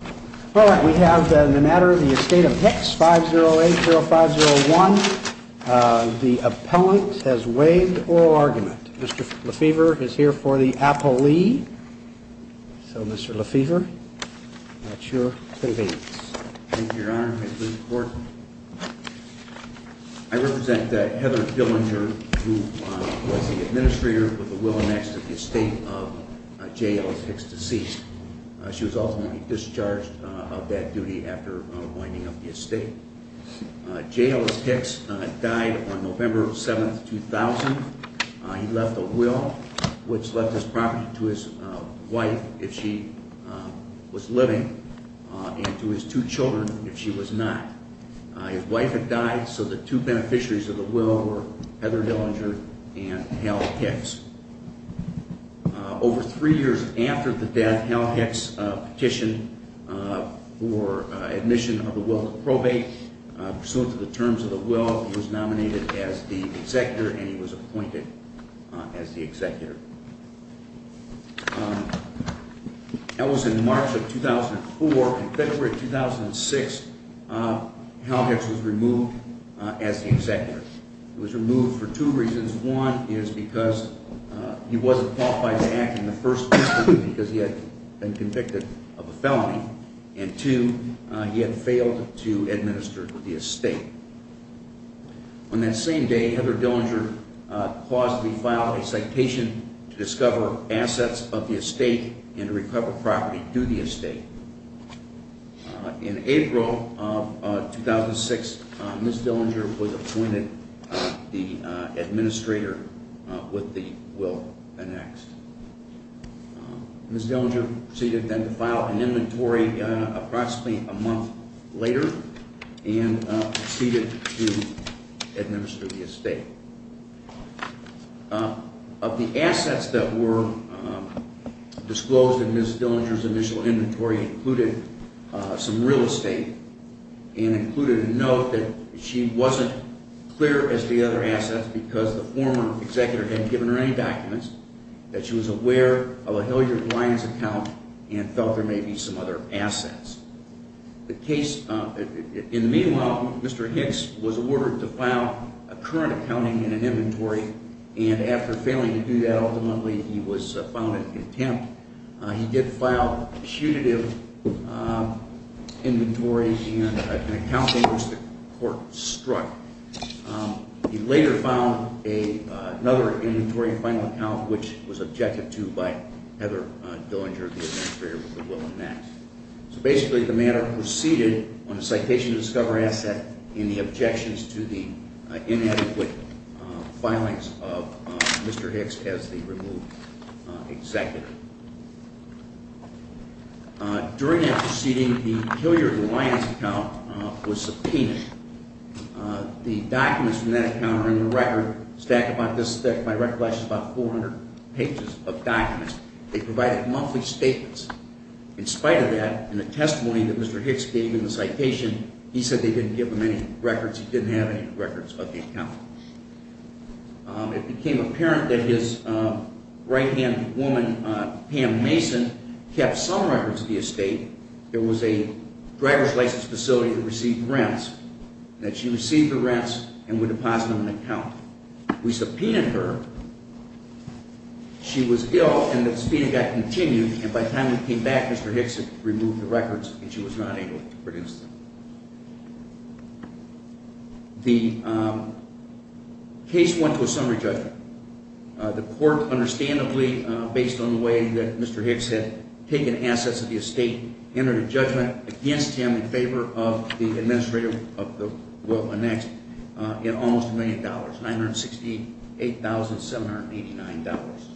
All right. We have the matter of the estate of Hicks, 5080501. The appellant has waived oral argument. Mr. Lefevre is here for the appellee. So, Mr. Lefevre, at your convenience. Thank you, Your Honor. I represent Heather Dillinger, who was the administrator of the will next to the estate of J. Ellis Hicks, deceased. She was ultimately discharged of that duty after winding up the estate. J. Ellis Hicks died on November 7, 2000. He left a will, which left his property to his wife if she was living, and to his two children if she was not. His wife had died, so the two beneficiaries of the will were Heather Dillinger and Hal Hicks. Over three years after the death, Hal Hicks petitioned for admission of the will to probate. Pursuant to the terms of the will, he was nominated as the executor, and he was appointed as the executor. That was in March of 2004. In February of 2006, Hal Hicks was removed as the executor. He was removed for two reasons. One is because he wasn't qualified to act in the first instance because he had been convicted of a felony, and two, he had failed to administer the estate. On that same day, Heather Dillinger plausibly filed a citation to discover assets of the estate and to recover property to the estate. In April of 2006, Ms. Dillinger was appointed the administrator with the will annexed. Ms. Dillinger proceeded then to file an inventory approximately a month later and proceeded to administer the estate. Of the assets that were disclosed in Ms. Dillinger's initial inventory included some real estate and included a note that she wasn't clear as to the other assets because the former executor hadn't given her any documents, that she was aware of a Hilliard Lyons account and felt there may be some other assets. In the meanwhile, Mr. Hicks was ordered to file a current accounting and an inventory, and after failing to do that, ultimately he was found in contempt. He did file a punitive inventory and an accounting which the court struck. He later filed another inventory and final account which was objected to by Heather Dillinger, the administrator with the will annexed. So basically the matter proceeded on a citation to discover asset and the objections to the inadequate filings of Mr. Hicks as the removed executor. During that proceeding, the Hilliard Lyons account was subpoenaed. The documents from that account are in the record stacked about this thick. My recollection is about 400 pages of documents. They provided monthly statements. In spite of that, in the testimony that Mr. Hicks gave in the citation, he said they didn't give him any records. He didn't have any records of the account. It became apparent that his right-hand woman, Pam Mason, kept some records of the estate. There was a driver's license facility that received rents, that she received the rents and would deposit them in an account. We subpoenaed her. She was ill and the subpoena got continued, and by the time we came back, Mr. Hicks had removed the records and she was not able to produce them. The case went to a summary judgment. The court, understandably, based on the way that Mr. Hicks had taken assets of the estate, entered a judgment against him in favor of the administrator of the will annexed in almost a million dollars, $968,789.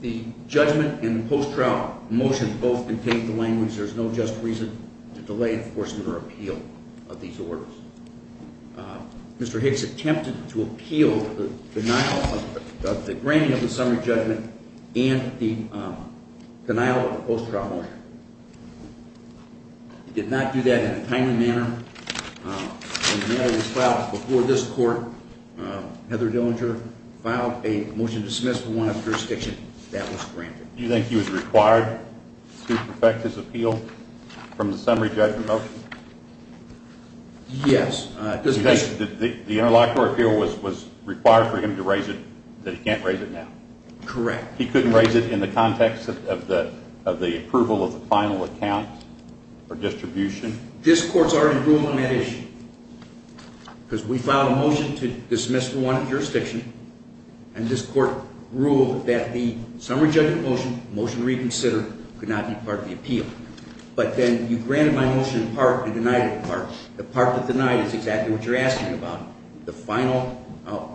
The judgment and the post-trial motion both contained the language, there's no just reason to delay enforcement or appeal of these orders. Mr. Hicks attempted to appeal the denial of the granting of the summary judgment and the denial of the post-trial motion. He did not do that in a timely manner. The mail was filed before this court. Heather Dillinger filed a motion to dismiss from one of the jurisdictions that was granted. Do you think he was required to perfect his appeal from the summary judgment motion? Yes. The interlocutor appeal was required for him to raise it, but he can't raise it now? Correct. He couldn't raise it in the context of the approval of the final account or distribution? This court's already ruled on that issue, because we filed a motion to dismiss from one jurisdiction, and this court ruled that the summary judgment motion, motion reconsidered, could not be part of the appeal. But then you granted my motion in part and denied it in part. The part that denied it is exactly what you're asking about. The final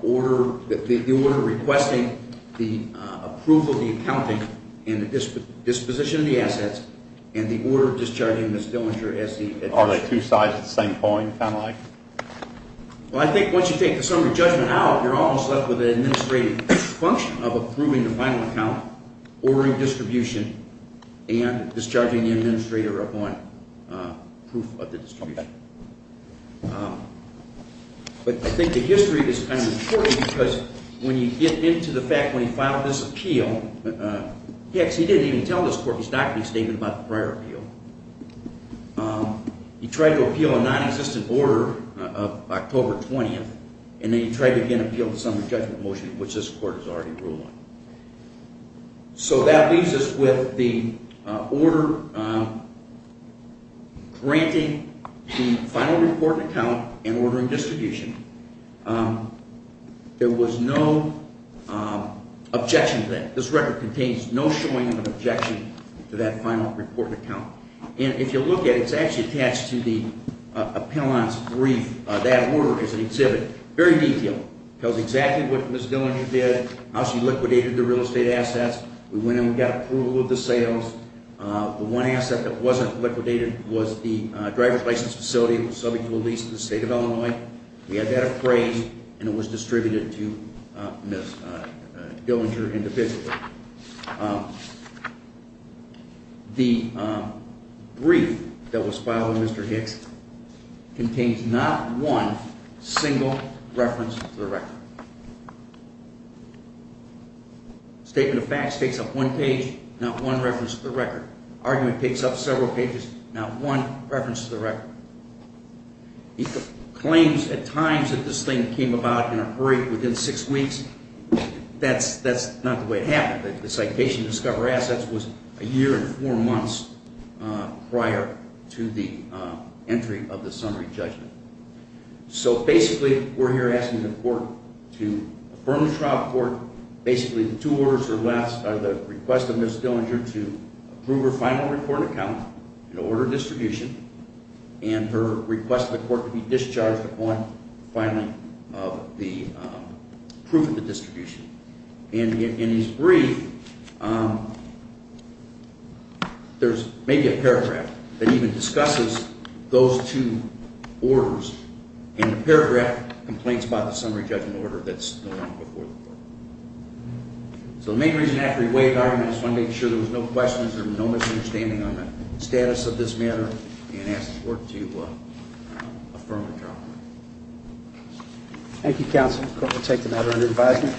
order, the order requesting the approval of the accounting and the disposition of the assets, and the order discharging Ms. Dillinger as the administrator. Are they two sides of the same coin, kind of like? Well, I think once you take the summary judgment out, you're almost left with an administrative function of approving the final account, ordering distribution, and discharging the administrator upon proof of the distribution. But I think the history is kind of important, because when you get into the fact when he filed this appeal, he actually didn't even tell this court his document statement about the prior appeal. He tried to appeal a nonexistent order of October 20th, and then he tried to again appeal the summary judgment motion, which this court is already ruling. So that leaves us with the order granting the final report and account and ordering distribution. There was no objection to that. This record contains no showing of an objection to that final report and account. And if you look at it, it's actually attached to the appellant's brief. That order is an exhibit. Very detailed. Tells exactly what Ms. Dillinger did, how she liquidated the real estate assets. We went in and got approval of the sales. The one asset that wasn't liquidated was the driver's license facility that was subject to a lease in the state of Illinois. We had that appraised, and it was distributed to Ms. Dillinger individually. The brief that was filed with Mr. Hicks contains not one single reference to the record. Statement of facts takes up one page, not one reference to the record. Argument takes up several pages, not one reference to the record. He claims at times that this thing came about in a hurry, within six weeks. That's not the way it happened. The citation to discover assets was a year and four months prior to the entry of the summary judgment. So basically, we're here asking the court to affirm the trial report. Basically, the two orders are the request of Ms. Dillinger to approve her final report and account, an order of distribution, and her request of the court to be discharged upon filing of the proof of the distribution. In his brief, there's maybe a paragraph that even discusses those two orders, and the paragraph complains about the summary judgment order that's no longer before the court. So the main reason after he weighed the argument, he wanted to make sure there were no questions, there was no misunderstanding on the status of this matter, and asked the court to affirm the trial report. Thank you, counsel. The court will take the matter under advisement.